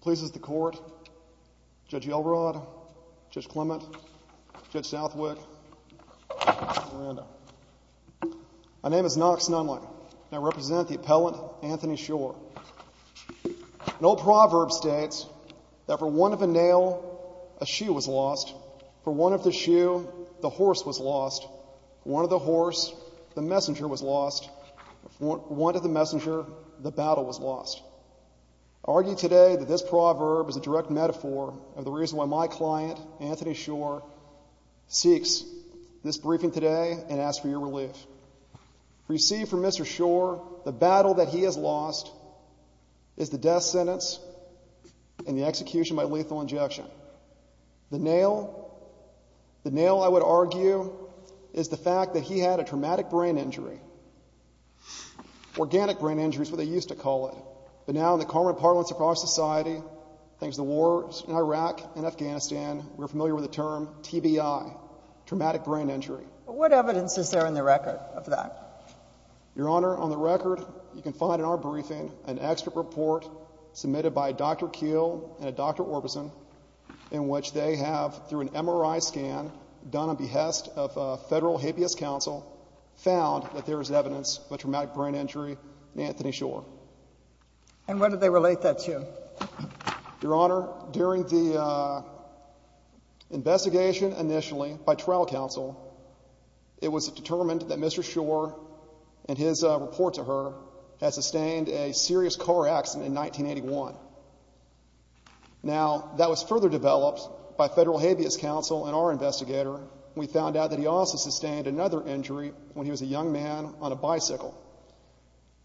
Pleases the court, Judge Yelrod, Judge Clement, Judge Southwick, My name is Knox Nunley and I represent the appellant Anthony Shore. An old proverb states that for one of a nail a shoe was lost, for one of the shoe the horse was lost, for one of the horse the messenger was lost, for one of the messenger the battle was lost. I argue today that this proverb is a direct metaphor of the reason why my client, Anthony Shore, seeks this briefing today and ask for your relief. Received from Mr. Shore, the battle that he has lost is the death sentence and the execution by lethal injection. The nail, the nail I would argue is the fact that he had a traumatic brain injury. Organic brain injury is what they used to call it, but now in the common parlance of our society, thanks to the wars in Iraq and Afghanistan, we're familiar with the term TBI, traumatic brain injury. What evidence is there in the record of that? Your Honor, on the record you can find in our briefing an excerpt report submitted by Dr. Keel and Dr. Orbison in which they have, through an MRI scan done on behest of a federal habeas council, found that there is evidence of a traumatic brain injury in Anthony Shore. And what do they relate that to? Your Honor, during the investigation initially by trial counsel, it was determined that Mr. Shore and his report to her had sustained a serious car accident in 1981. Now, that was further developed by federal habeas council and our investigator. We found out that he also sustained another injury when he was a young man on a bicycle.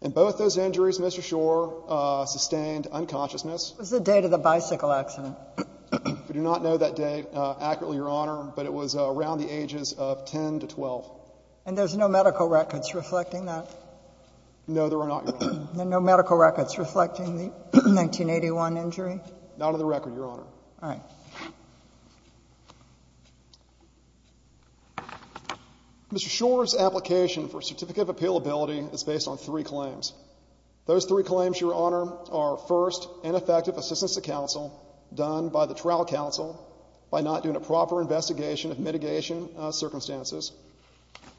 In both those injuries, Mr. Shore sustained unconsciousness. It was the day of the bicycle accident. We do not know that date accurately, Your Honor, but it was around the ages of 10 to 12. And there's no medical records reflecting that? No, there are not, Your Honor. And no medical records reflecting the 1981 injury? Not on the record, Your Honor. All right. Mr. Shore's application for certificate of appealability is based on three claims. Those three claims, Your Honor, are first, ineffective assistance to counsel done by the trial counsel by not doing a proper investigation of mitigation circumstances.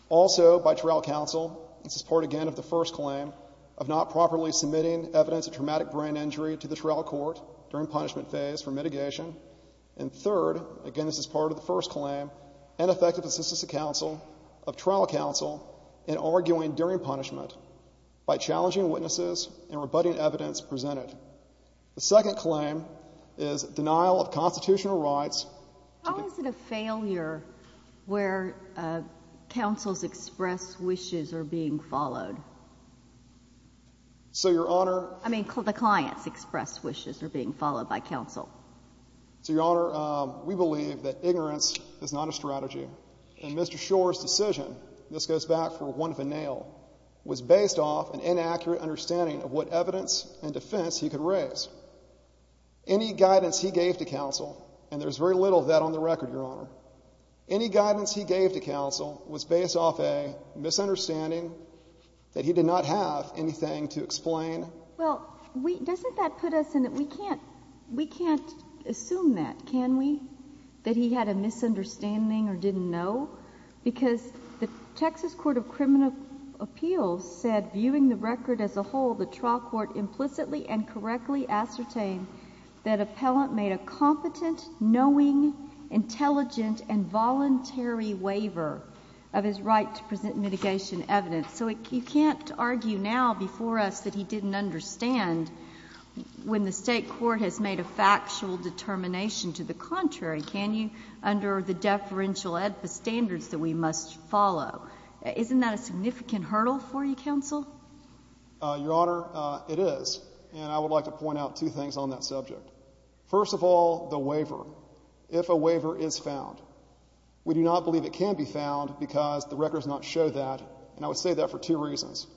Also, by trial counsel, this is part, again, of the first claim, of not properly submitting evidence of traumatic brain injury to the trial court during punishment phase for mitigation. And third, again, this is part of the first claim, ineffective assistance to counsel of challenging witnesses and rebutting evidence presented. The second claim is denial of constitutional rights. How is it a failure where counsel's expressed wishes are being followed? So, Your Honor— I mean, the client's expressed wishes are being followed by counsel. So, Your Honor, we believe that ignorance is not a strategy. And Mr. Shore's decision, this goes back for one of a nail, was based off an inaccurate understanding of what evidence and defense he could raise. Any guidance he gave to counsel, and there's very little of that on the record, Your Honor, any guidance he gave to counsel was based off a misunderstanding that he did not have anything to explain. Well, we—doesn't that put us in a—we can't—we can't assume that, can we, that he had a misunderstanding or didn't know? Because the Texas Court of Criminal Appeals said, viewing the record as a whole, the trial court implicitly and correctly ascertained that appellant made a competent, knowing, intelligent, and voluntary waiver of his right to present mitigation evidence. So, you can't argue now before us that he didn't understand when the state court has made a factual determination to the contrary. Can you, under the deferential EDFA standards that we must follow, isn't that a significant hurdle for you, counsel? Your Honor, it is, and I would like to point out two things on that subject. First of all, the waiver. If a waiver is found, we do not believe it can be found because the records do not show that, and I would say that for two reasons.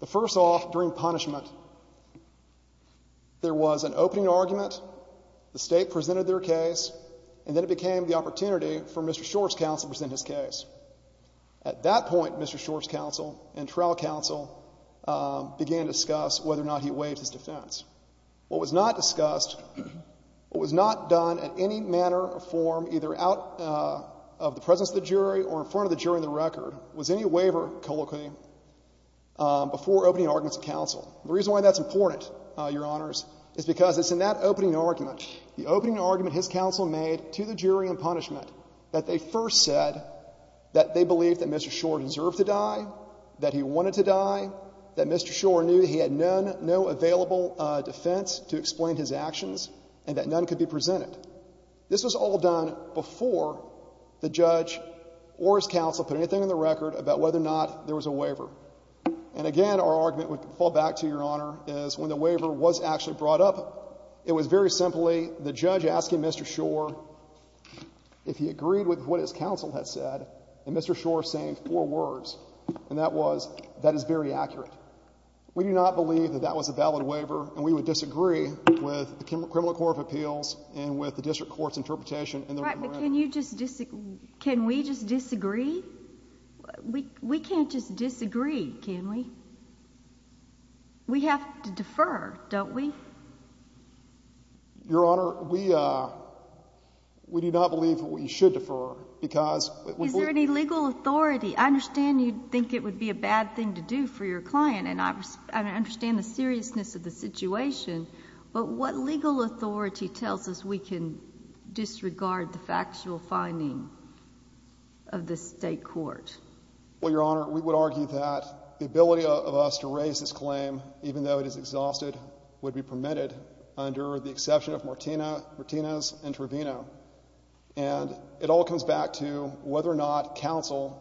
The first off, during punishment, there was an opening argument, the state presented their case, and then it became the opportunity for Mr. Shor's counsel to present his case. At that point, Mr. Shor's counsel and trial counsel began to discuss whether or not he waived his defense. What was not discussed, what was not done in any manner or form, either out of the presence of the jury or in front of the jury in the record, was any waiver colloquy before opening arguments of counsel. The reason why that's important, Your Honors, is because it's in that opening argument, the opening argument his counsel made to the jury in punishment that they first said that they believed that Mr. Shor deserved to die, that he wanted to die, that Mr. Shor knew he had none, no available defense to explain his actions, and that none could be presented. This was all done before the judge or his counsel put anything in the record about whether or not there was a waiver. And again, our argument would fall back to, Your Honor, is when the waiver was actually brought up, it was very simply the judge asking Mr. Shor if he agreed with what his counsel had said, and Mr. Shor saying four words, and that was, that is very accurate. We do not believe that that was a valid waiver, and we would disagree with the Criminal Court of Appeals and with the District Court's interpretation in the record. Right, but can you just disagree, can we just disagree? We can't just disagree, can we? We have to defer, don't we? Your Honor, we do not believe that we should defer, because we believe— Is there any legal authority, I understand you think it would be a bad thing to do for your client, and I understand the seriousness of the situation, but what legal authority tells us we can disregard the factual finding of the state court? Well, Your Honor, we would argue that the ability of us to raise this claim, even though it is exhausted, would be permitted under the exception of Martinez and Trevino. And it all comes back to whether or not counsel,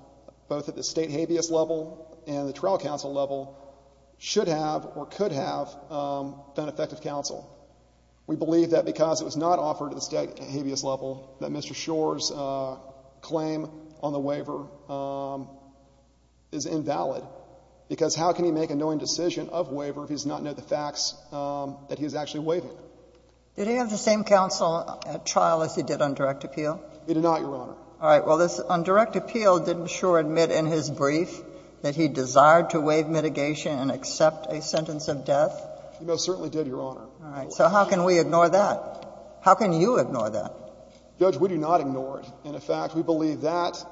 both at the state habeas level and the trial counsel level, should have or could have been effective counsel. We believe that because it was not offered at the state habeas level, that Mr. Shor's claim on the waiver is invalid, because how can he make a knowing decision of waiver if he does not know the facts that he is actually waiving? Did he have the same counsel at trial as he did on direct appeal? He did not, Your Honor. All right, well, on direct appeal, did Mr. Shor admit in his brief that he desired to waive mitigation and accept a sentence of death? He most certainly did, Your Honor. All right, so how can we ignore that? How can you ignore that? Judge, we do not ignore it. In fact, we believe that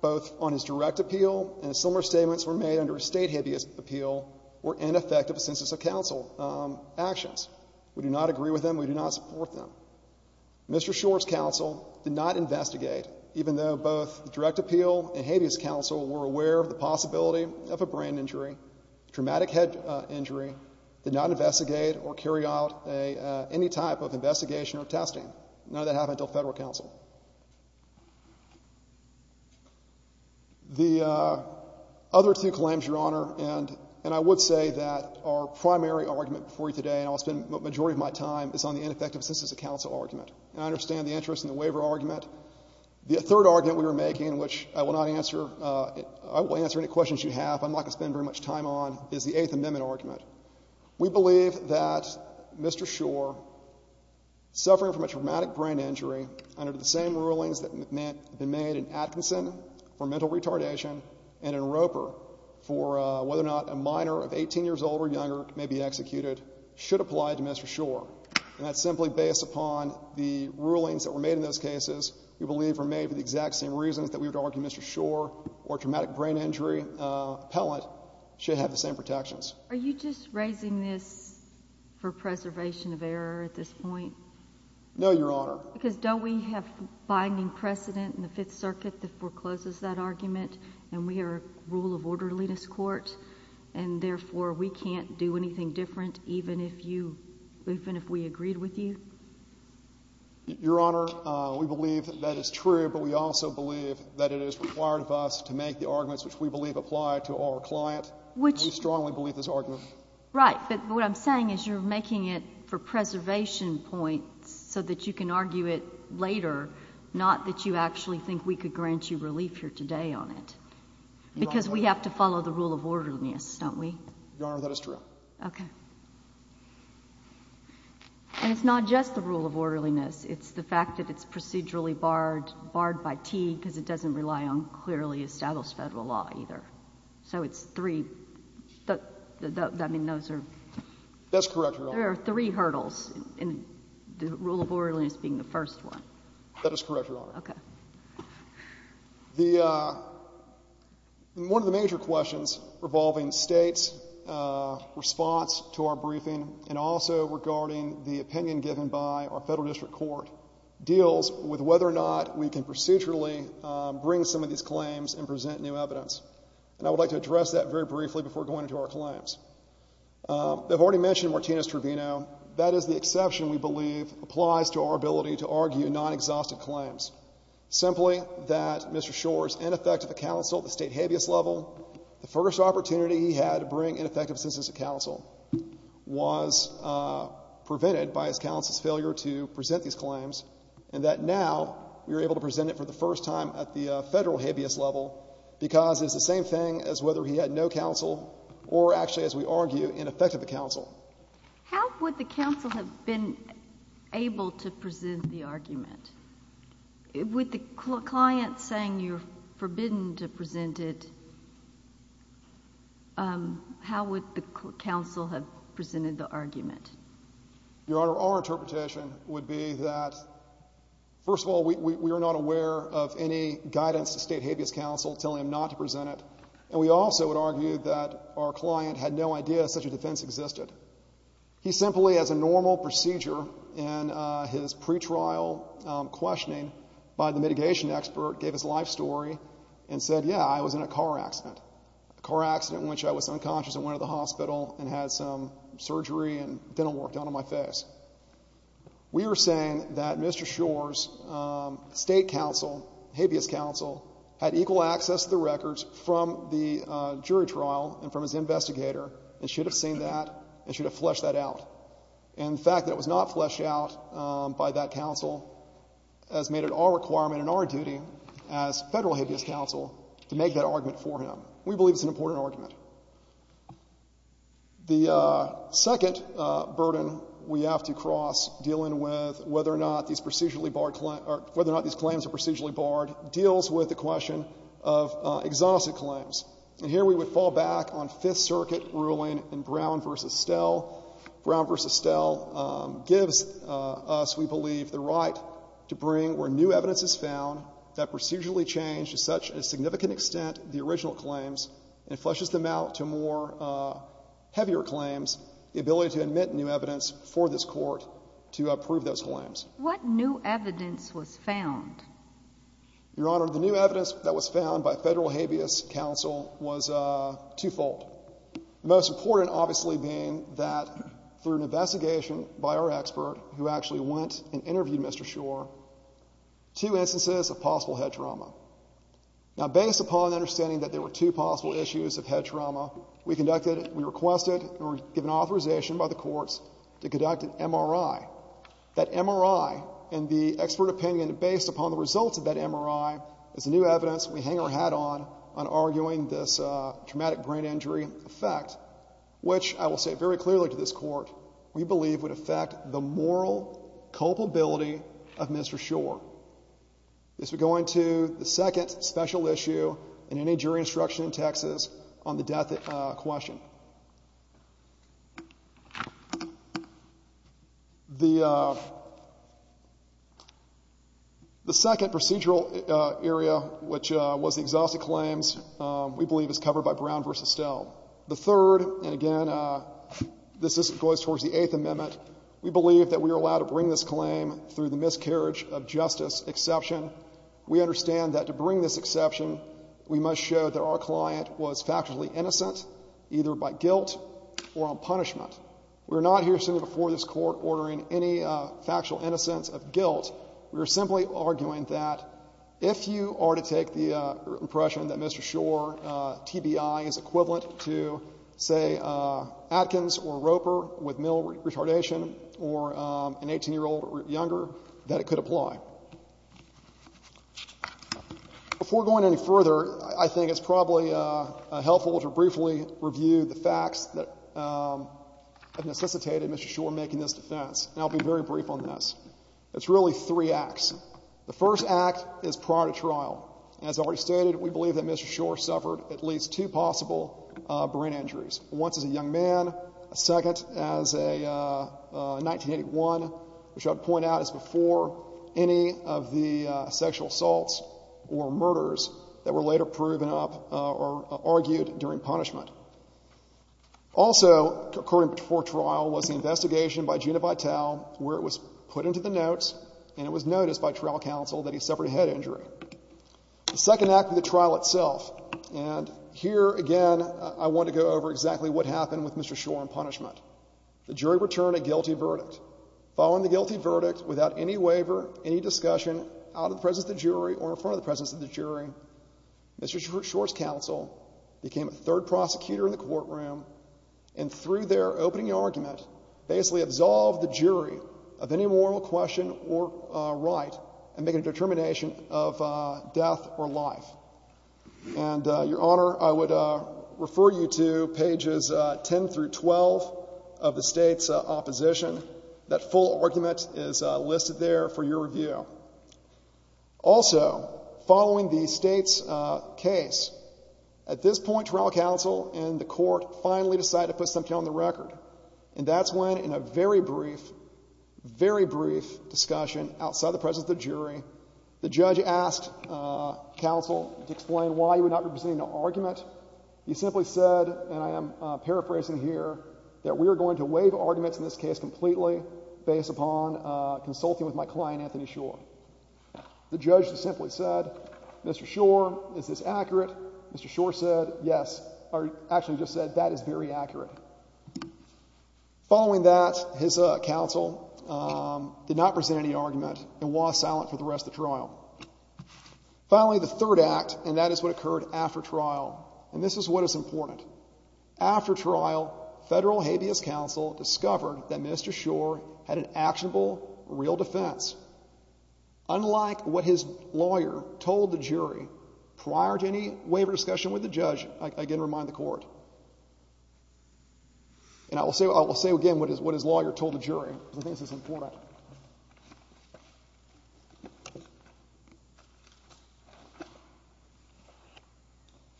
both on his direct appeal and similar statements were made under state habeas appeal were ineffective census of counsel actions. We do not agree with them. We do not support them. Mr. Shor's counsel did not investigate, even though both direct appeal and habeas counsel were aware of the possibility of a brain injury, traumatic head injury, did not investigate or carry out any type of investigation or testing. None of that happened until federal counsel. The other two claims, Your Honor, and I would say that our primary argument before you today, and I will spend the majority of my time, is on the ineffective census of counsel argument. And I understand the interest in the waiver argument. The third argument we were making, which I will not answer, I will answer any questions you have, I'm not going to spend very much time on, is the Eighth Amendment argument. We believe that Mr. Shor, suffering from a traumatic brain injury under the same rulings that have been made in Atkinson for mental retardation and in Roper for whether or not a minor of 18 years old or younger may be executed, should apply to Mr. Shor. And that's simply based upon the rulings that were made in those cases, we believe were made for the exact same reasons that we would argue Mr. Shor or traumatic brain injury appellant should have the same protections. Are you just raising this for preservation of error at this point? No, Your Honor. Because don't we have binding precedent in the Fifth Circuit that forecloses that argument and we are a rule of orderliness court and therefore we can't do anything different even if you, even if we agreed with you? Your Honor, we believe that is true, but we also believe that it is required of us to make the arguments which we believe apply to our client. We strongly believe this argument. Right, but what I'm saying is you're making it for preservation points so that you can argue it later, not that you actually think we could grant you relief here today on it. Because we have to follow the rule of orderliness, don't we? Your Honor, that is true. Okay. And it's not just the rule of orderliness, it's the fact that it's procedurally barred by T because it doesn't rely on clearly established Federal law either. So it's three, I mean, those are... That's correct, Your Honor. There are three hurdles in the rule of orderliness being the first one. That is correct, Your Honor. Okay. One of the major questions revolving State's response to our briefing and also regarding the opinion given by our Federal District Court deals with whether or not we can procedurally bring some of these claims and present new evidence. And I would like to address that very briefly before going into our claims. I've already mentioned Martinez-Trevino. That is the exception we believe applies to our ability to argue non-exhaustive claims. Simply that Mr. Shor's ineffective counsel at the State habeas level, the first opportunity he had to bring ineffective sentences to counsel was prevented by his counsel's failure to present these claims and that now we're able to present it for the first time at the Federal habeas level because it's the same thing as whether he had no counsel or actually, as we argue, ineffective counsel. How would the counsel have been able to present the argument? With the client saying you're forbidden to present it, how would the counsel have presented the argument? Your Honor, our interpretation would be that, first of all, we were not aware of any guidance to State habeas counsel telling him not to present it and we also would argue that our client had no idea such a defense existed. He simply, as a normal procedure in his pretrial questioning by the mitigation expert, gave his life story and said, yeah, I was in a car accident, a car accident in which I was unconscious and went to the hospital and had some surgery and dental work done on my face. We were saying that Mr. Shor's State counsel, habeas counsel, had equal access to the records from the jury trial and from his investigator and should have seen that and should have fleshed that out. And the fact that it was not fleshed out by that counsel has made it our requirement and our duty as Federal habeas counsel to make that argument for him. We believe it's an important argument. The second burden we have to cross dealing with whether or not these procedurally changed to such a significant extent the original claims and fleshes them out to more heavier claims, the ability to admit new evidence for this Court to approve those claims. What new evidence was found? Your Honor, the new evidence that was found by Federal habeas counsel was twofold. The most important, obviously, being that through an investigation by our expert, who actually went and interviewed Mr. Shor, two instances of possible head trauma. Now, based upon understanding that there were two possible issues of head trauma, we conducted it, we requested, we were given authorization by the courts to conduct an MRI. That MRI and the expert opinion based upon the results of that MRI is the new evidence we hang our hat on on arguing this traumatic brain injury effect, which I will say very clearly to this Court, we believe would affect the moral culpability of Mr. Shor. This would go into the second special issue in any jury instruction in Texas on the death question. The second procedural area, which was the exhaustive claims, we believe is covered by Brown v. Estelle. The third, and again, this goes towards the Eighth Amendment, we believe that we are allowed to bring this claim through the miscarriage of justice exception. We understand that to bring this exception, we must show that our client was factually innocent, either by guilt or on punishment. We are not here sitting before this Court ordering any factual innocence of guilt. We are simply arguing that if you are to take the impression that Mr. Shor, TBI, is equivalent to, say, Atkins or Roper with mental retardation or an 18-year-old or younger, that it could apply. Before going any further, I think it's probably helpful to briefly review the facts that have necessitated Mr. Shor making this defense, and I'll be very brief on this. It's really three acts. The first act is prior to trial. As I already stated, we believe that Mr. Shor suffered at least two possible brain injuries, once as a young man, a second as a 1981, which I would point out is before any of the sexual assaults or murders that were later proven up or argued during punishment. Also, according to prior trial, was the investigation by Gina Vitale, where it was put into the notes, and it was noticed by trial counsel that he suffered a head injury. The second act of the trial itself, and here, again, I want to go over exactly what happened with Mr. Shor and punishment. The jury returned a guilty verdict. Following the guilty verdict, without any waiver, any discussion, out of the presence of the jury or in front of the presence of the jury, Mr. Shor's counsel became a third prosecutor in the courtroom, and through their opening argument, basically absolved the jury of any moral question or right in making a determination of death or life. And, Your Honor, I would refer you to pages 10 through 12 of the state's opposition. That full argument is listed there for your review. Also, following the state's case, at this point, trial counsel and the court finally decided to put something on the record. And that's when, in a very brief, very brief discussion outside the presence of the jury, the judge asked counsel to explain why he would not be presenting an argument. He simply said, and I am paraphrasing here, that we are going to waive arguments in this case completely based upon consulting with my client, Anthony Shor. The judge simply said, Mr. Shor, is this accurate? Mr. Shor said, yes, or actually just said, that is very accurate. Following that, his counsel did not present any argument and was silent for the rest of the trial. Finally, the third act, and that is what occurred after trial, and this is what is important. After trial, federal habeas counsel discovered that Mr. Shor had an actionable real defense. Unlike what his lawyer told the jury, prior to any waiver discussion with the judge, I again remind the court, and I will say again what his lawyer told the jury, because I think this is important.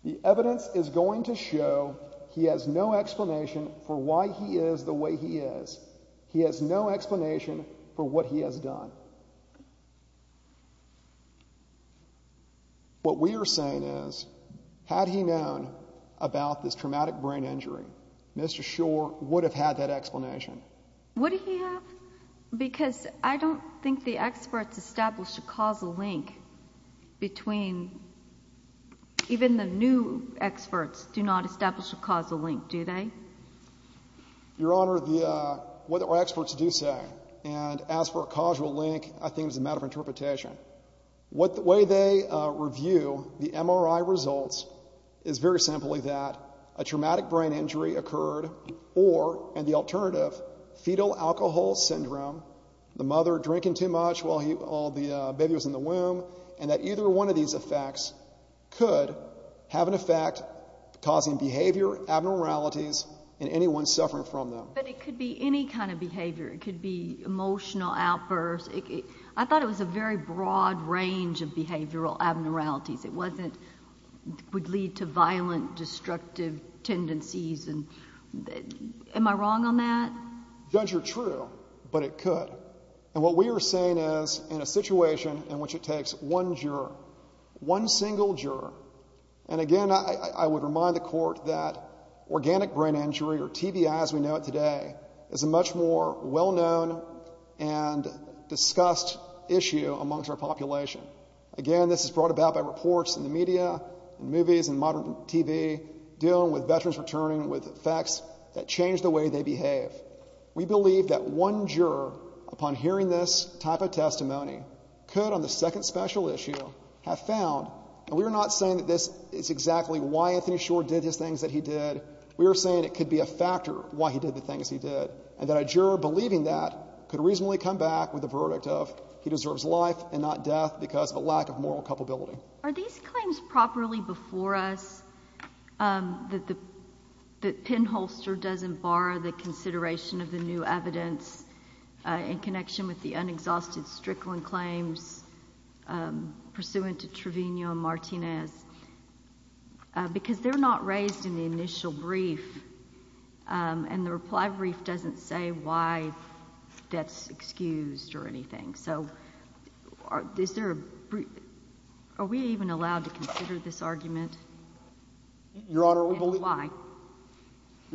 The evidence is going to show he has no explanation for why he is the way he is. He has no explanation for what he has done. What we are saying is, had he known about this traumatic brain injury, Mr. Shor would have had that explanation. What did he have? Because I don't think the experts establish a causal link between, even the new experts do not establish a causal link, do they? Your Honor, what our experts do say, and as for a causal link, I think it is a matter of interpretation. The way they review the MRI results is very simply that a traumatic brain injury occurred or, and the alternative, fetal alcohol syndrome, the mother drinking too much while the baby was in the womb, and that either one of these effects could have an effect causing behavior abnormalities in anyone suffering from them. But it could be any kind of behavior. It could be emotional outbursts. I thought it was a very broad range of behavioral abnormalities. It wasn't, would lead to violent, destructive tendencies. Am I wrong on that? Judge, you're true, but it could. And what we are saying is, in a situation in which it takes one juror, one single juror, and again, I would remind the Court that organic brain injury, or TBI as we know it today, is a much more well-known and discussed issue amongst our population. Again, this is brought about by reports in the media, in movies, in modern TV, dealing with veterans returning with effects that change the way they behave. We believe that one juror, upon hearing this type of testimony, could, on the second special issue, have found, and we are not saying that this is exactly why Anthony Schor did the things that he did. We are saying it could be a factor why he did the things he did, and that a juror believing that could reasonably come back with the verdict of, he deserves life and not death because of a lack of moral culpability. Are these claims properly before us, that the pinholster doesn't borrow the consideration of the new evidence in connection with the unexhausted Strickland claims pursuant to Trevino and Martinez? Because they're not raised in the initial brief, and the reply brief doesn't say why death's excused or anything. So are we even allowed to consider this argument? Your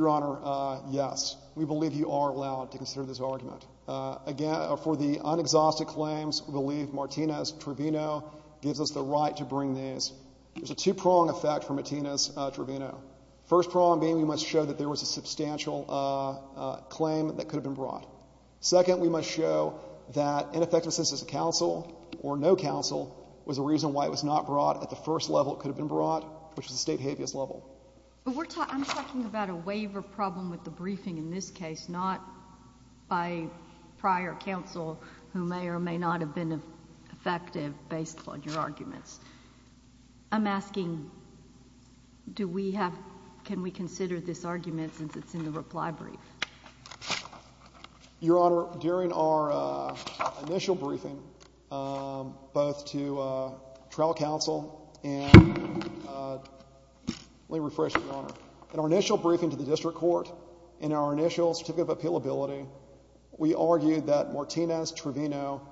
Honor, yes. We believe you are allowed to consider this argument. Again, for the unexhausted claims, we believe Martinez-Trevino gives us the right to bring these. There's a two-prong effect for Martinez-Trevino. First prong being we must show that there was a substantial claim that could have been brought. Second, we must show that ineffective assistance to counsel or no counsel was a reason why it was not brought at the first level it could have been brought, which is the state habeas level. But I'm talking about a waiver problem with the briefing in this case, not by prior counsel who may or may not have been effective based on your arguments. I'm asking, do we have, can we consider this argument since it's in the reply brief? Your Honor, during our initial briefing, both to trial counsel and, let me refresh, Your Honor. In our initial briefing to the district court, in our initial certificate of appealability, we argued that Martinez-Trevino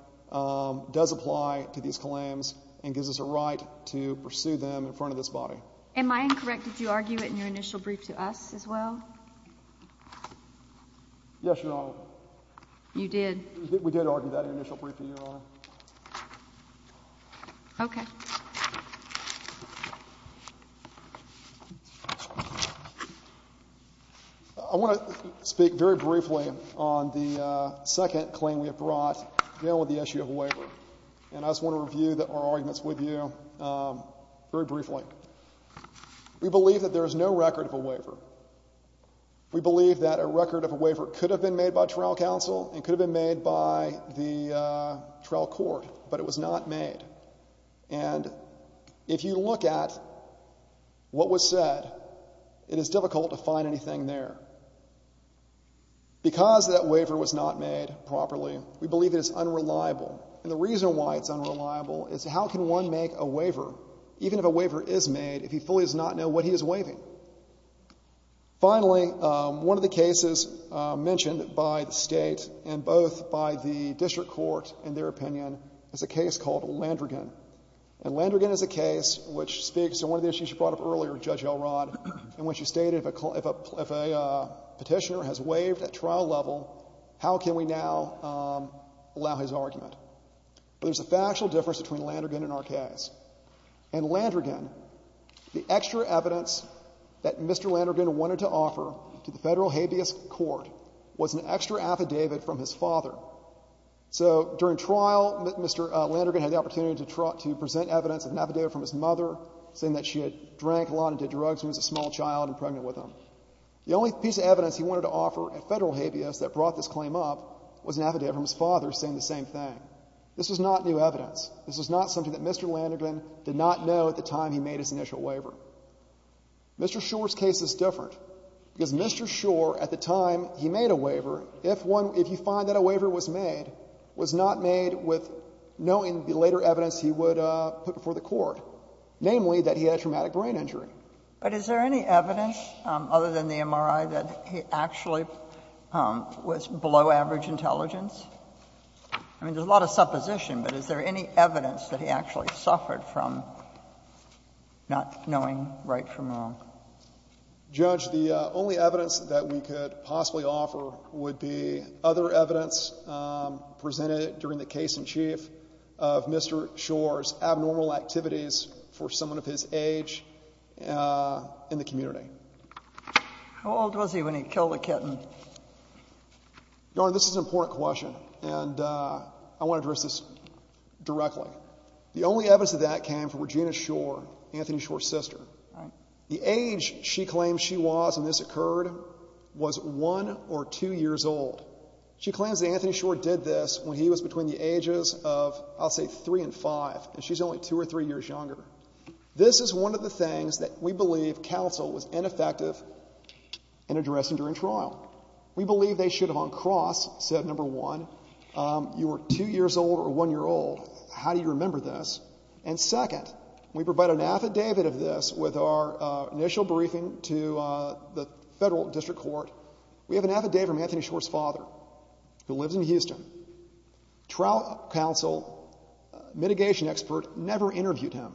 does apply to these claims and gives us a right to pursue them in front of this body. Am I incorrect? Did you argue it in your initial brief to us as well? Yes, Your Honor. You did? We did argue that in our initial briefing, Your Honor. Okay. Thank you. I want to speak very briefly on the second claim we have brought dealing with the issue of a waiver. And I just want to review our arguments with you very briefly. We believe that there is no record of a waiver. We believe that a record of a waiver could have been made by trial counsel and could have been made by the trial court, but it was not made. And if you look at what was said, it is difficult to find anything there. Because that waiver was not made properly, we believe it is unreliable. And the reason why it's unreliable is how can one make a waiver, even if a waiver is made, if he fully does not know what he is waiving? Finally, one of the cases mentioned by the State and both by the district court in their opinion is a case called Landrigan. And Landrigan is a case which speaks to one of the issues you brought up earlier, Judge Elrod, in which you stated if a petitioner has waived at trial level, how can we now allow his argument? There is a factual difference between Landrigan and Arcaz. In Landrigan, the extra evidence that Mr. Landrigan wanted to offer to the federal habeas court was an extra affidavit from his father. So during trial, Mr. Landrigan had the opportunity to present evidence, an affidavit from his mother saying that she had drank a lot and did drugs when he was a small child and pregnant with him. The only piece of evidence he wanted to offer a federal habeas that brought this claim up was an affidavit from his father saying the same thing. This was not new evidence. This was not something that Mr. Landrigan did not know at the time he made his initial waiver. Mr. Schor's case is different because Mr. Schor, at the time he made a waiver, if you find that a waiver was made, was not made with knowing the later evidence he would put before the court, namely that he had a traumatic brain injury. But is there any evidence other than the MRI that he actually was below average intelligence? I mean, there's a lot of supposition, but is there any evidence that he actually suffered from not knowing right from wrong? Judge, the only evidence that we could possibly offer would be other evidence presented during the case in chief of Mr. Schor's abnormal activities for someone of his age in the community. How old was he when he killed the kitten? Your Honor, this is an important question, and I want to address this directly. The only evidence of that came from Regina Schor, Anthony Schor's sister. The age she claims she was when this occurred was 1 or 2 years old. She claims that Anthony Schor did this when he was between the ages of, I'll say, 3 and 5, and she's only 2 or 3 years younger. This is one of the things that we believe counsel was ineffective in addressing during trial. We believe they should have, on cross, said, number one, you were 2 years old or 1 year old. How do you remember this? And second, we provide an affidavit of this with our initial briefing to the federal district court. We have an affidavit from Anthony Schor's father, who lives in Houston. Trial counsel, mitigation expert, never interviewed him.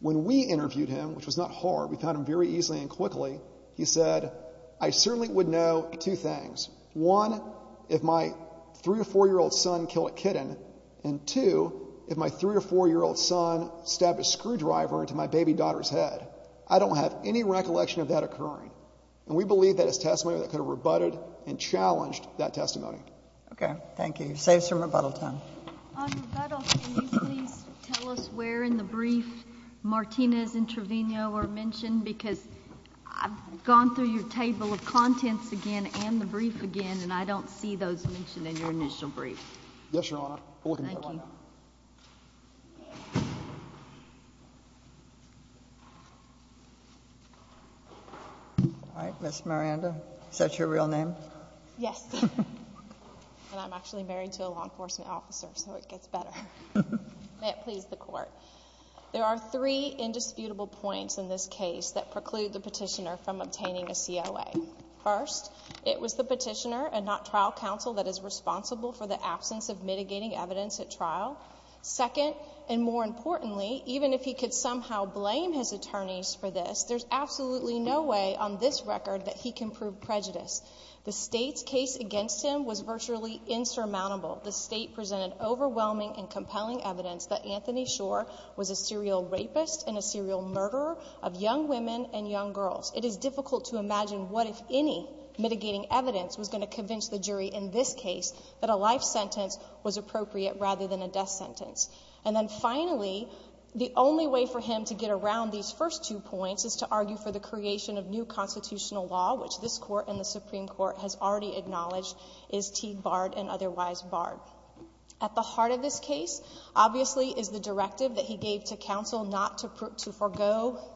When we interviewed him, which was not hard, we found him very easily and quickly, he said, I certainly would know two things. One, if my 3 or 4-year-old son killed a kitten, and two, if my 3 or 4-year-old son stabbed a screwdriver into my baby daughter's head. I don't have any recollection of that occurring. And we believe that his testimony could have rebutted and challenged that testimony. Okay. Thank you. Saves some rebuttal time. On rebuttal, can you please tell us where in the brief Martinez and Trevino were mentioned? Because I've gone through your table of contents again and the brief again, and I don't see those mentioned in your initial brief. Yes, Your Honor. Thank you. All right. Ms. Miranda, is that your real name? Yes. And I'm actually married to a law enforcement officer, so it gets better. May it please the Court. There are three indisputable points in this case that preclude the petitioner from obtaining a COA. First, it was the petitioner and not trial counsel that is responsible for the absence of mitigating evidence at trial. Second, and more importantly, even if he could somehow blame his attorneys for this, there's absolutely no way on this record that he can prove prejudice. The State's case against him was virtually insurmountable. The State presented overwhelming and compelling evidence that Anthony Schor was a serial rapist and a serial murderer of young women and young girls. It is difficult to imagine what, if any, mitigating evidence was going to convince the jury in this case that a life sentence was appropriate rather than a death sentence. And then finally, the only way for him to get around these first two points is to argue for the creation of new constitutional law, which this Court and the Supreme Court has already acknowledged is Teague Bard and otherwise Bard. At the heart of this case, obviously, is the directive that he gave to counsel not to forego –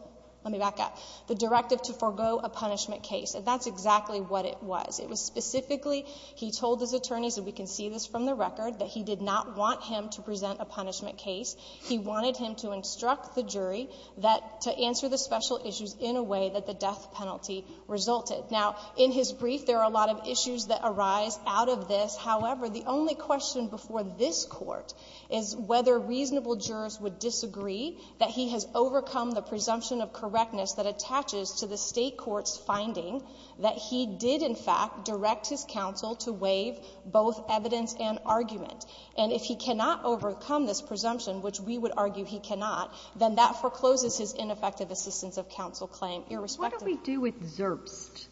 let me back up – the directive to forego a punishment case, and that's exactly what it was. It was specifically – he told his attorneys, and we can see this from the record, that he did not want him to present a punishment case. He wanted him to instruct the jury that – to answer the special issues in a way that the death penalty resulted. Now, in his brief, there are a lot of issues that arise out of this. However, the only question before this Court is whether reasonable jurors would disagree that he has overcome the presumption of correctness that attaches to the State court's finding that he did, in fact, direct his counsel to waive both evidence and argument. And if he cannot overcome this presumption, which we would argue he cannot, then that forecloses his ineffective assistance of counsel claim, irrespective of – What do we do with Zerbst,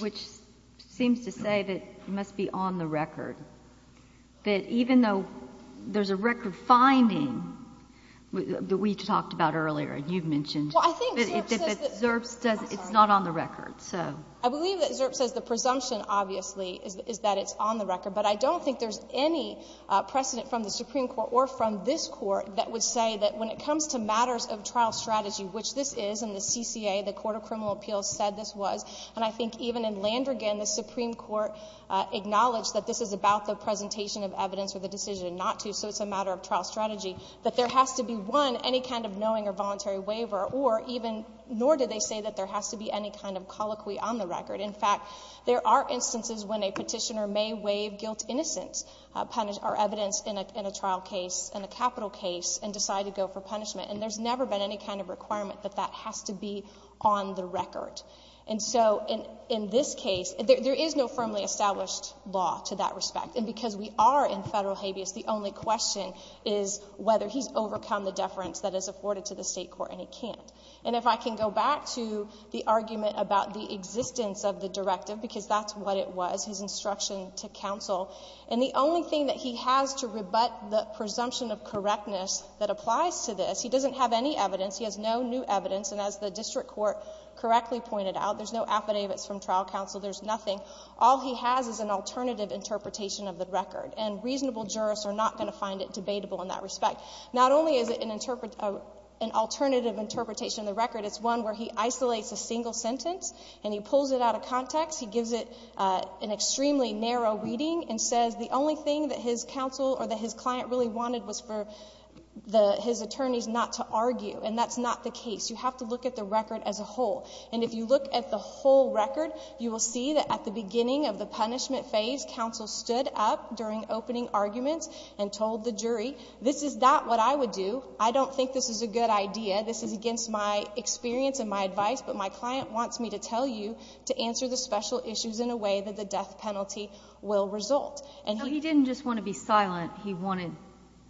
which seems to say that it must be on the record, that even though there's a record finding that we talked about earlier and you've mentioned – Well, I think Zerbst says that – I believe that Zerbst says the presumption, obviously, is that it's on the record. But I don't think there's any precedent from the Supreme Court or from this Court that would say that when it comes to matters of trial strategy, which this is, and the CCA, the Court of Criminal Appeals, said this was. And I think even in Landrigan, the Supreme Court acknowledged that this is about the presentation of evidence or the decision not to, so it's a matter of trial strategy, that there has to be, one, any kind of knowing or voluntary waiver, or even – In fact, there are instances when a petitioner may waive guilt innocence or evidence in a trial case, in a capital case, and decide to go for punishment. And there's never been any kind of requirement that that has to be on the record. And so in this case, there is no firmly established law to that respect. And because we are in federal habeas, the only question is whether he's overcome the deference that is afforded to the State court, and he can't. And if I can go back to the argument about the existence of the directive, because that's what it was, his instruction to counsel, and the only thing that he has to rebut the presumption of correctness that applies to this, he doesn't have any evidence. He has no new evidence. And as the district court correctly pointed out, there's no affidavits from trial counsel. There's nothing. All he has is an alternative interpretation of the record. And reasonable jurists are not going to find it debatable in that respect. Not only is it an alternative interpretation of the record, it's one where he isolates a single sentence and he pulls it out of context. He gives it an extremely narrow reading and says the only thing that his counsel or that his client really wanted was for his attorneys not to argue. And that's not the case. You have to look at the record as a whole. And if you look at the whole record, you will see that at the beginning of the punishment phase, counsel stood up during opening arguments and told the jury, this is not what I would do. I don't think this is a good idea. This is against my experience and my advice. But my client wants me to tell you to answer the special issues in a way that the death penalty will result. And he didn't just want to be silent. He wanted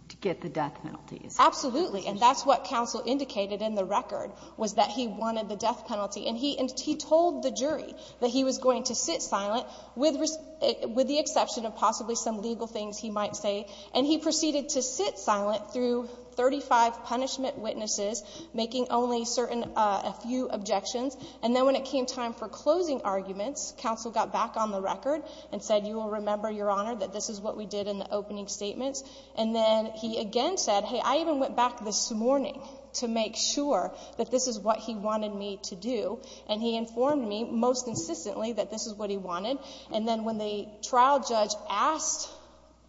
to get the death penalty. Absolutely. And that's what counsel indicated in the record was that he wanted the death penalty. And he told the jury that he was going to sit silent with the exception of possibly some legal things he might say. And he proceeded to sit silent through 35 punishment witnesses, making only certain a few objections. And then when it came time for closing arguments, counsel got back on the record and said you will remember, Your Honor, that this is what we did in the opening statements. And then he again said, Hey, I even went back this morning to make sure that this is what he wanted me to do. And he informed me most insistently that this is what he wanted. And then when the trial judge asked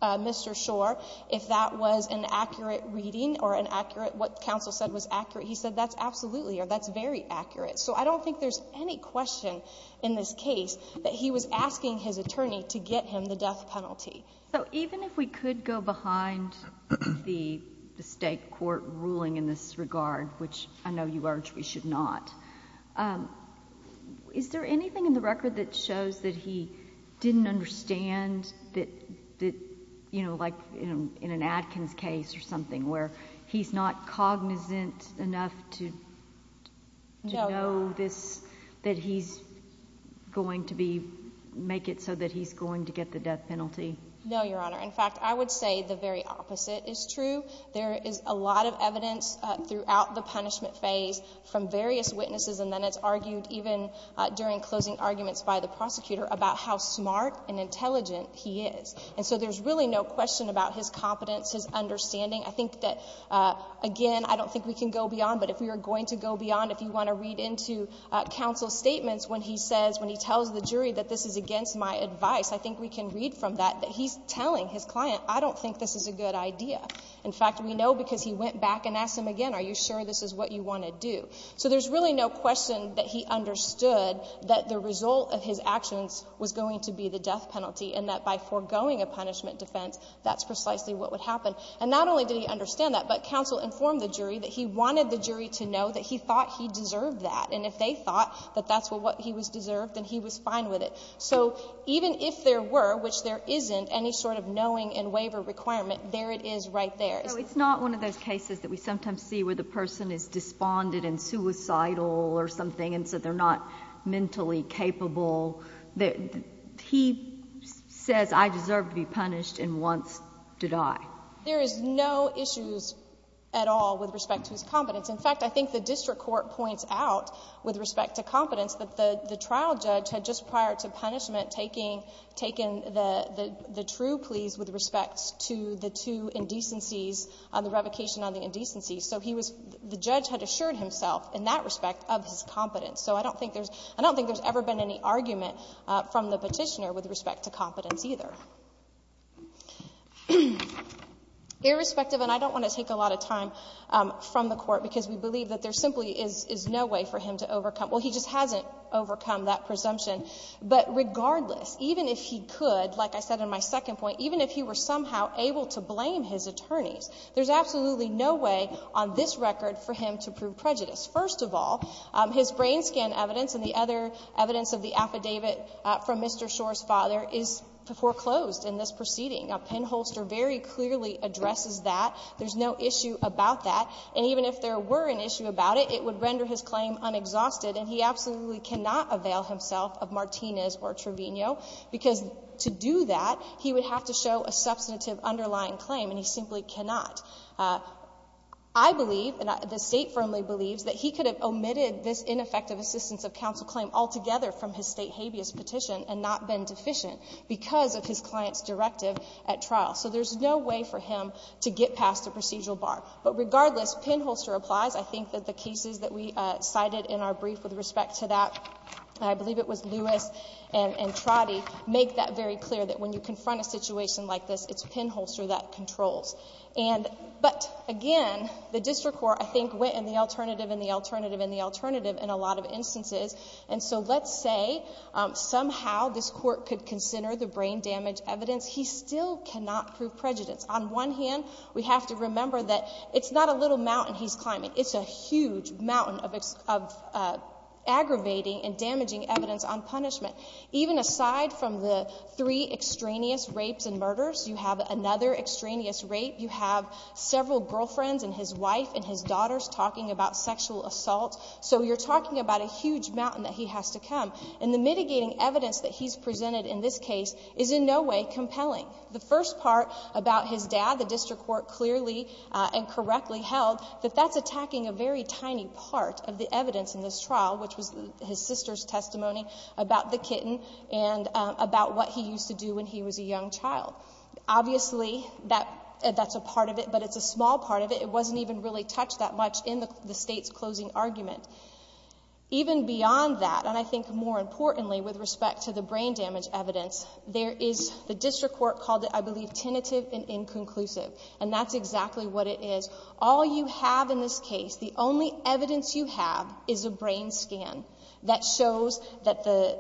Mr. Schor if that was an accurate reading or an accurate, what counsel said was accurate, he said that's absolutely or that's very accurate. So I don't think there's any question in this case that he was asking his attorney to get him the death penalty. So even if we could go behind the state court ruling in this regard, which I know you urge we should not, is there anything in the record that shows that he didn't understand that, you know, like in an Adkins case or something where he's not cognizant enough to know this, that he's going to make it so that he's going to get the death penalty? No, Your Honor. In fact, I would say the very opposite is true. There is a lot of evidence throughout the punishment phase from various witnesses, and then it's argued even during closing arguments by the prosecutor about how smart and intelligent he is. And so there's really no question about his competence, his understanding. I think that, again, I don't think we can go beyond, but if we are going to go beyond, if you want to read into counsel's statements when he says, when he tells the jury that this is against my advice, I think we can read from that that he's telling his client, I don't think this is a good idea. In fact, we know because he went back and asked him again, are you sure this is what you want to do? So there's really no question that he understood that the result of his actions was going to be the death penalty, and that by foregoing a punishment defense, that's precisely what would happen. And not only did he understand that, but counsel informed the jury that he wanted the jury to know that he thought he deserved that. And if they thought that that's what he was deserved, then he was fine with it. So even if there were, which there isn't, any sort of knowing and waiver requirement, there it is right there. So it's not one of those cases that we sometimes see where the person is despondent and suicidal or something, and so they're not mentally capable. He says, I deserve to be punished and wants to die. There is no issues at all with respect to his competence. In fact, I think the district court points out with respect to competence that the trial judge had just prior to punishment taken the true pleas with respect to the two indecencies on the revocation on the indecency. So he was the judge had assured himself in that respect of his competence. So I don't think there's ever been any argument from the Petitioner with respect to competence either. Irrespective, and I don't want to take a lot of time from the Court because we believe that there simply is no way for him to overcome. Well, he just hasn't overcome that presumption. But regardless, even if he could, like I said in my second point, even if he were somehow able to blame his attorneys, there's absolutely no way on this record for him to prove prejudice. First of all, his brain scan evidence and the other evidence of the affidavit from Mr. Schor's father is foreclosed in this proceeding. A pinholster very clearly addresses that. There's no issue about that. And even if there were an issue about it, it would render his claim unexhausted, and he absolutely cannot avail himself of Martinez or Trevino because to do that, he would have to show a substantive underlying claim, and he simply cannot. I believe, and the State firmly believes, that he could have omitted this ineffective assistance of counsel claim altogether from his State habeas petition and not been deficient because of his client's directive at trial. So there's no way for him to get past the procedural bar. But regardless, pinholster applies. I think that the cases that we cited in our brief with respect to that, and I believe it was Lewis and Trotty, make that very clear that when you confront a situation like this, it's pinholster that controls. But again, the district court, I think, went in the alternative and the alternative and the alternative in a lot of instances. And so let's say somehow this court could consider the brain damage evidence. He still cannot prove prejudice. On one hand, we have to remember that it's not a little mountain he's climbing. It's a huge mountain of aggravating and damaging evidence on punishment. Even aside from the three extraneous rapes and murders, you have another extraneous rape. You have several girlfriends and his wife and his daughters talking about sexual assault. So you're talking about a huge mountain that he has to come. And the mitigating evidence that he's presented in this case is in no way compelling. The first part about his dad, the district court clearly and correctly held that that's attacking a very tiny part of the evidence in this trial, which was his sister's testimony about the kitten and about what he used to do when he was a young child. Obviously, that's a part of it, but it's a small part of it. It wasn't even really touched that much in the State's closing argument. Even beyond that, and I think more importantly with respect to the brain damage evidence, there is the district court called it, I believe, tentative and inconclusive. And that's exactly what it is. All you have in this case, the only evidence you have is a brain scan that shows that the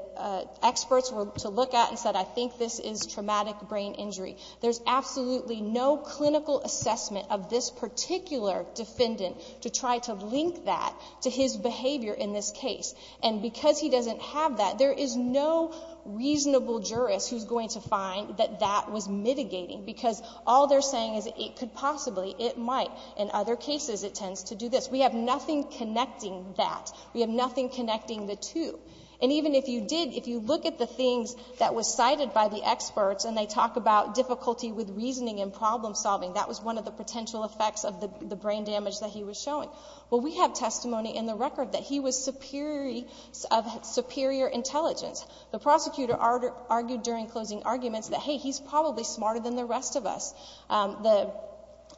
experts were to look at and said, I think this is traumatic brain injury. There's absolutely no clinical assessment of this particular defendant to try to link that to his behavior in this case. And because he doesn't have that, there is no reasonable jurist who's going to find that that was mitigating, because all they're saying is it could possibly, it might, in other cases it tends to do this. We have nothing connecting that. We have nothing connecting the two. And even if you did, if you look at the things that were cited by the experts and they talk about difficulty with reasoning and problem solving, that was one of the potential effects of the brain damage that he was showing. Well, we have testimony in the record that he was of superior intelligence. The prosecutor argued during closing arguments that, hey, he's probably smarter than the rest of us.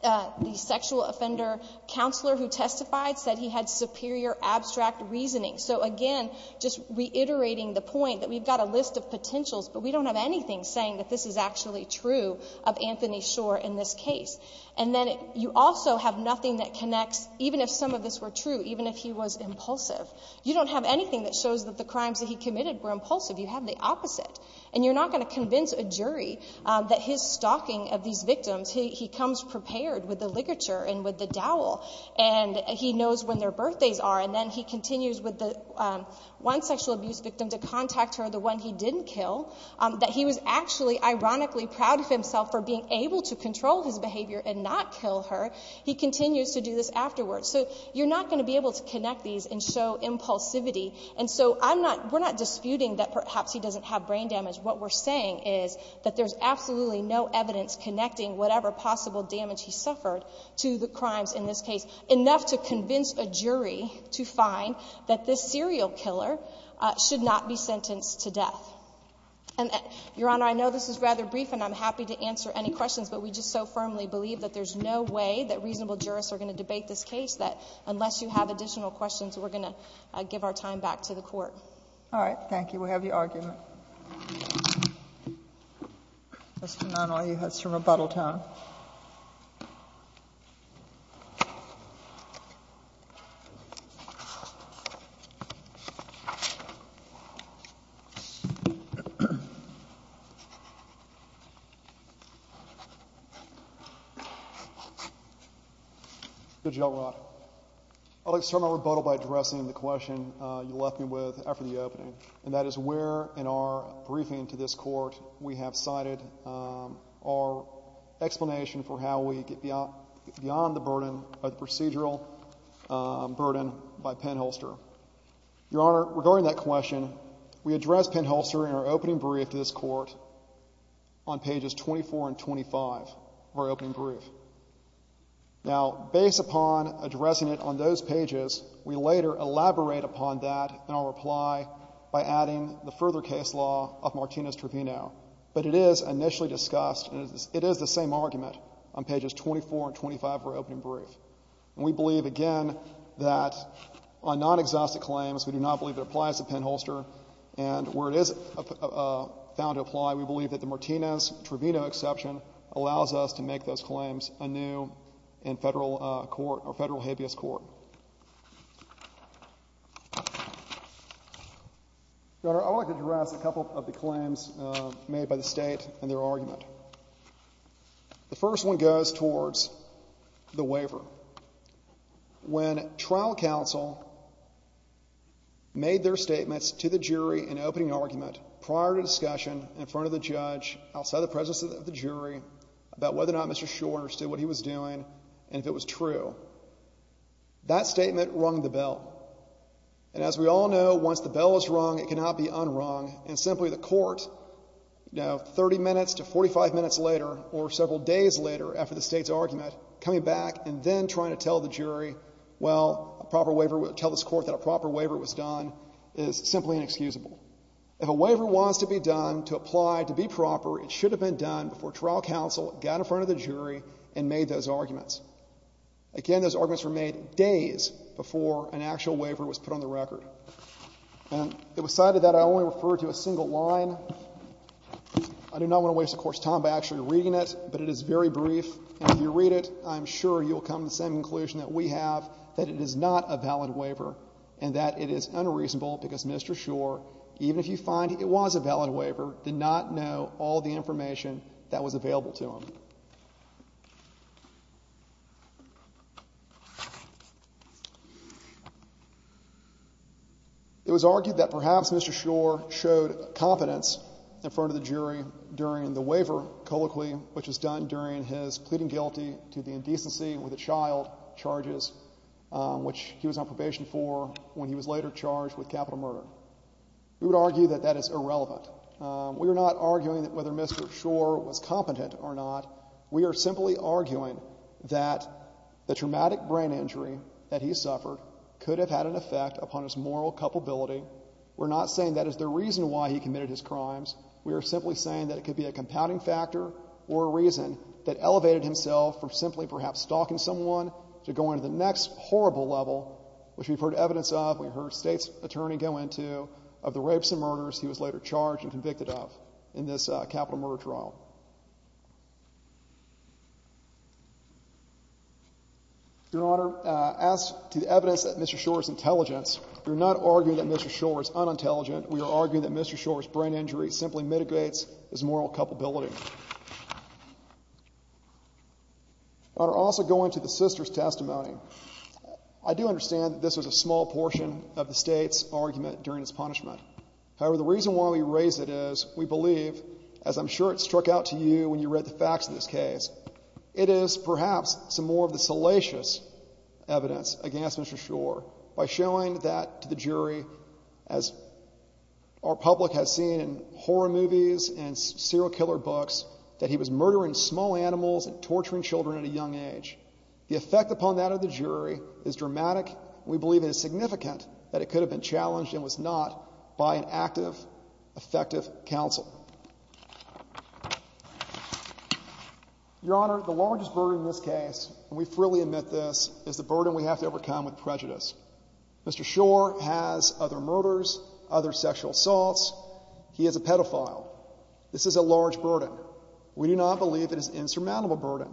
The sexual offender counselor who testified said he had superior abstract reasoning. So, again, just reiterating the point that we've got a list of potentials, but we don't have anything saying that this is actually true of Anthony Shore in this case. And then you also have nothing that connects, even if some of this were true, even if he was impulsive. You don't have anything that shows that the crimes that he committed were impulsive. You have the opposite. And you're not going to convince a jury that his stalking of these victims, he comes prepared with the ligature and with the dowel, and he knows when their birthdays are, and then he continues with the one sexual abuse victim to contact her, the one he didn't kill, that he was actually, ironically, proud of himself for being able to control his behavior and not kill her. He continues to do this afterwards. So you're not going to be able to connect these and show impulsivity. And so we're not disputing that perhaps he doesn't have brain damage. What we're saying is that there's absolutely no evidence connecting whatever possible damage he suffered to the crimes in this case, enough to convince a jury to find that this serial killer should not be sentenced to death. And, Your Honor, I know this is rather brief, and I'm happy to answer any questions, but we just so firmly believe that there's no way that reasonable jurists are going to debate this case, that unless you have additional questions, we're going to give our time back to the Court. All right, thank you. We have your argument. All right. Mr. Nonoli, you have some rebuttal time. Good job, Rod. I'd like to start my rebuttal by addressing the question you left me with after the opening, and that is where in our briefing to this Court we have cited our explanation for how we get beyond the burden, the procedural burden by Penn-Holster. Your Honor, regarding that question, we addressed Penn-Holster in our opening brief to this Court on pages 24 and 25 of our opening brief. Now, based upon addressing it on those pages, we later elaborate upon that in our reply by adding the further case law of Martinez-Trevino. But it is initially discussed, and it is the same argument on pages 24 and 25 of our opening brief. And we believe, again, that on nonexhaustive claims, we do not believe it applies to Penn-Holster. And where it is found to apply, we believe that the Martinez-Trevino exception allows us to make those claims anew in federal court, or federal habeas court. Your Honor, I'd like to address a couple of the claims made by the State and their argument. The first one goes towards the waiver. When trial counsel made their statements to the jury in opening argument prior to discussion in front of the judge, outside the presence of the jury, about whether or not Mr. Schor understood what he was doing and if it was true, that statement rung the bell. And as we all know, once the bell is rung, it cannot be unrung. Now, 30 minutes to 45 minutes later, or several days later after the State's argument, coming back and then trying to tell the jury, well, a proper waiver, tell this court that a proper waiver was done, is simply inexcusable. If a waiver wants to be done to apply to be proper, it should have been done before trial counsel got in front of the jury and made those arguments. Again, those arguments were made days before an actual waiver was put on the record. And beside that, I only refer to a single line. I do not want to waste the court's time by actually reading it, but it is very brief. And if you read it, I'm sure you'll come to the same conclusion that we have, that it is not a valid waiver and that it is unreasonable because Mr. Schor, even if you find it was a valid waiver, did not know all the information that was available to him. It was argued that perhaps Mr. Schor showed competence in front of the jury during the waiver colloquy, which was done during his pleading guilty to the indecency with a child charges, which he was on probation for when he was later charged with capital murder. We would argue that that is irrelevant. We are not arguing that whether Mr. Schor was competent or not. We are simply arguing that the traumatic brain injury that he suffered could have had an effect upon his moral culpability. We're not saying that is the reason why he committed his crimes. We are simply saying that it could be a compounding factor or a reason that elevated himself from simply perhaps stalking someone to going to the next horrible level, which we've heard evidence of, we've heard a state's attorney go into, of the rapes and murders he was later charged and convicted of in this capital murder trial. Your Honor, as to the evidence that Mr. Schor's intelligence, we're not arguing that Mr. Schor is unintelligent. We are arguing that Mr. Schor's brain injury simply mitigates his moral culpability. Honor, also going to the sister's testimony, I do understand that this was a small portion of the state's argument during his punishment. However, the reason why we raise it is we believe, as I'm sure it struck out to you when you read the facts of this case, it is perhaps some more of the salacious evidence against Mr. Schor by showing that to the jury, as our public has seen in horror movies and serial killer books, that he was murdering small animals and torturing children at a young age. The effect upon that of the jury is dramatic. and was not by an active, effective counsel. Your Honor, the largest burden in this case, and we freely admit this, is the burden we have to overcome with prejudice. Mr. Schor has other murders, other sexual assaults. He is a pedophile. This is a large burden. We do not believe it is an insurmountable burden.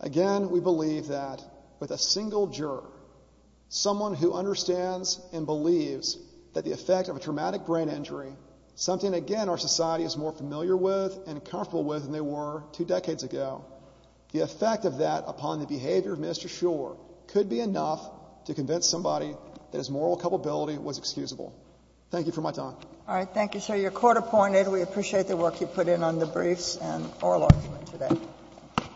Again, we believe that with a single juror, someone who understands and believes that the effect of a traumatic brain injury, something, again, our society is more familiar with and comfortable with than they were two decades ago, the effect of that upon the behavior of Mr. Schor could be enough to convince somebody that his moral culpability was excusable. Thank you for my time. All right. Thank you, sir. You're court-appointed. We appreciate the work you put in on the briefs and oral argument today. All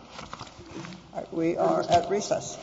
right. We are at recess. Thank you.